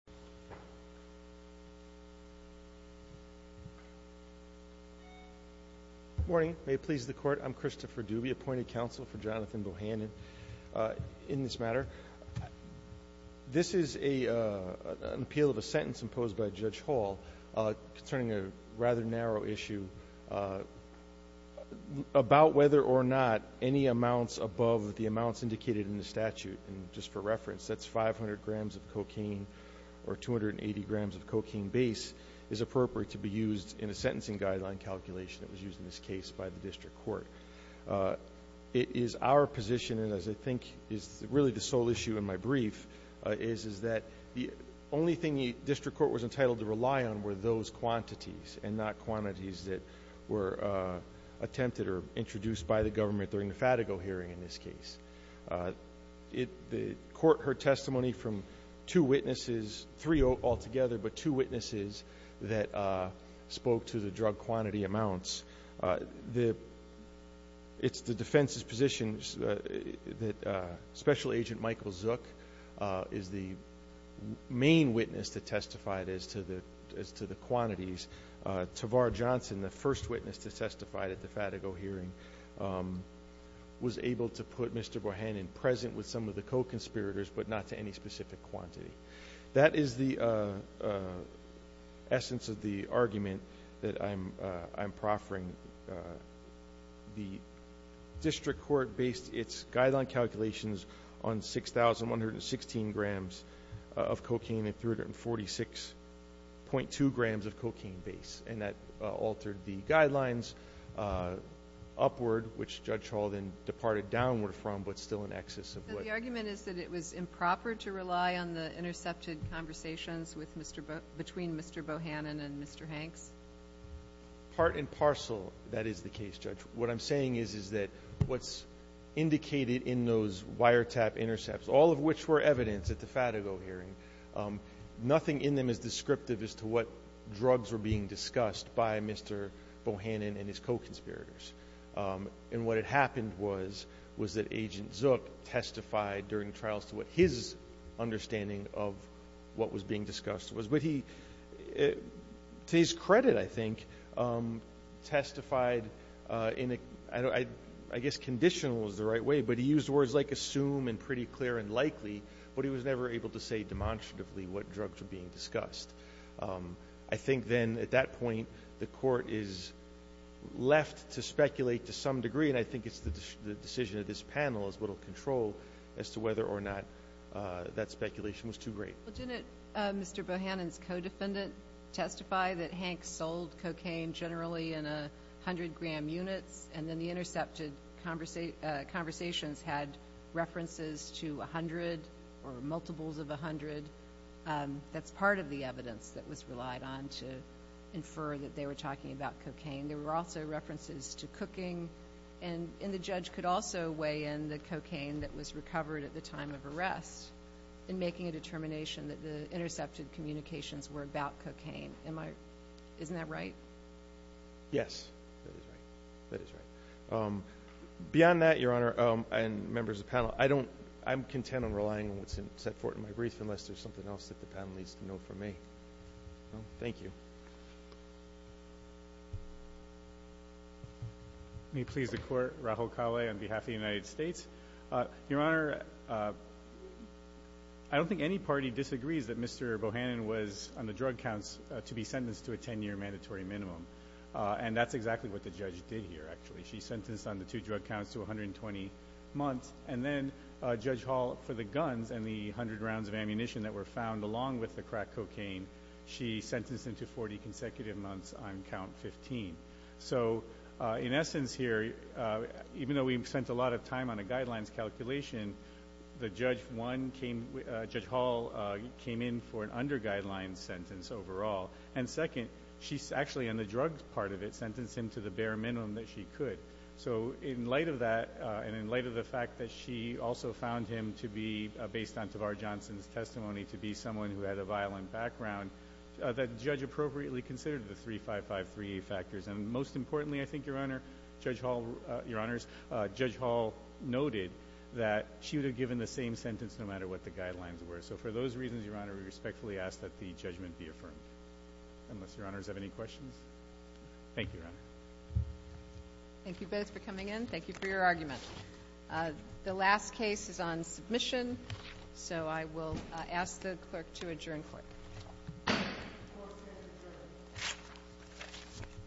Morning, may it please the court, I'm Christopher Dubie, appointed counsel for Jonathan Bohannon. In this matter, this is an appeal of a sentence imposed by Judge Hall concerning a rather narrow issue about whether or not any amounts above the amounts indicated in the statute. And just for reference, that's 500 grams of cocaine or 280 grams of cocaine base is appropriate to be used in a sentencing guideline calculation that was used in this case by the district court. It is our position, and as I think is really the sole issue in my brief, is that the only thing the district court was entitled to rely on were those quantities and not quantities that were attempted or introduced by the government during the Fatico hearing in this case. The court heard testimony from two witnesses, three altogether, but two witnesses that spoke to the drug quantity amounts. It's the defense's position that Special Agent Michael Zook is the main witness to testify as to the quantities. Tavar Johnson, the first witness to testify at the Fatico hearing, was able to put Mr. Bohannon present with some of the co-conspirators but not to any specific quantity. That is the essence of the argument that I'm proffering. The district court based its guideline calculations on 6,116 grams of cocaine and 346.2 grams of cocaine base. And that altered the guidelines upward, which Judge Hall then departed downward from but still in excess of what? So the argument is that it was improper to rely on the intercepted conversations between Mr. Bohannon and Mr. Hanks? Part and parcel, that is the case, Judge. What I'm saying is that what's indicated in those wiretap intercepts, all of which were being discussed by Mr. Bohannon and his co-conspirators. And what had happened was that Agent Zook testified during trials to what his understanding of what was being discussed was. But he, to his credit, I think, testified in a, I guess, conditional is the right way, but he used words like assume and pretty clear and likely, but he was never able to say demonstratively what drugs were being discussed. I think then at that point, the court is left to speculate to some degree. And I think it's the decision of this panel is what will control as to whether or not that speculation was too great. Well, didn't Mr. Bohannon's co-defendant testify that Hanks sold cocaine generally in 100 gram units and then the intercepted conversations had references to 100 or multiples of 100? That's part of the evidence that was relied on to infer that they were talking about cocaine. There were also references to cooking and the judge could also weigh in the cocaine that was recovered at the time of arrest in making a determination that the intercepted communications were about cocaine. Am I, isn't that right? Yes, that is right. Beyond that, Your Honor and members of the panel, I don't, I'm content on relying on that fort in my brief unless there's something else that the panel needs to know from me. Thank you. Let me please the court, Rahul Kale on behalf of the United States. Your Honor, I don't think any party disagrees that Mr. Bohannon was on the drug counts to be sentenced to a 10 year mandatory minimum. And that's exactly what the judge did here actually. She sentenced on the two drug counts to 120 months and then Judge Hall for the guns and the 100 rounds of ammunition that were found along with the crack cocaine, she sentenced him to 40 consecutive months on count 15. So in essence here, even though we've spent a lot of time on a guidelines calculation, the judge one came, Judge Hall came in for an under guidelines sentence overall. And second, she's actually on the drug part of it sentenced him to the bare minimum that she could. So in light of that, and in light of the fact that she also found him to be based on Tavar Johnson's testimony to be someone who had a violent background, that judge appropriately considered the 3553A factors. And most importantly, I think, Your Honor, Judge Hall, Your Honors, Judge Hall noted that she would have given the same sentence no matter what the guidelines were. So for those reasons, Your Honor, we respectfully ask that the judgment be affirmed, unless Your Honors have any questions. Thank you, Your Honor. Thank you. Thank you both for coming in. Thank you for your argument. The last case is on submission. So I will ask the clerk to adjourn court.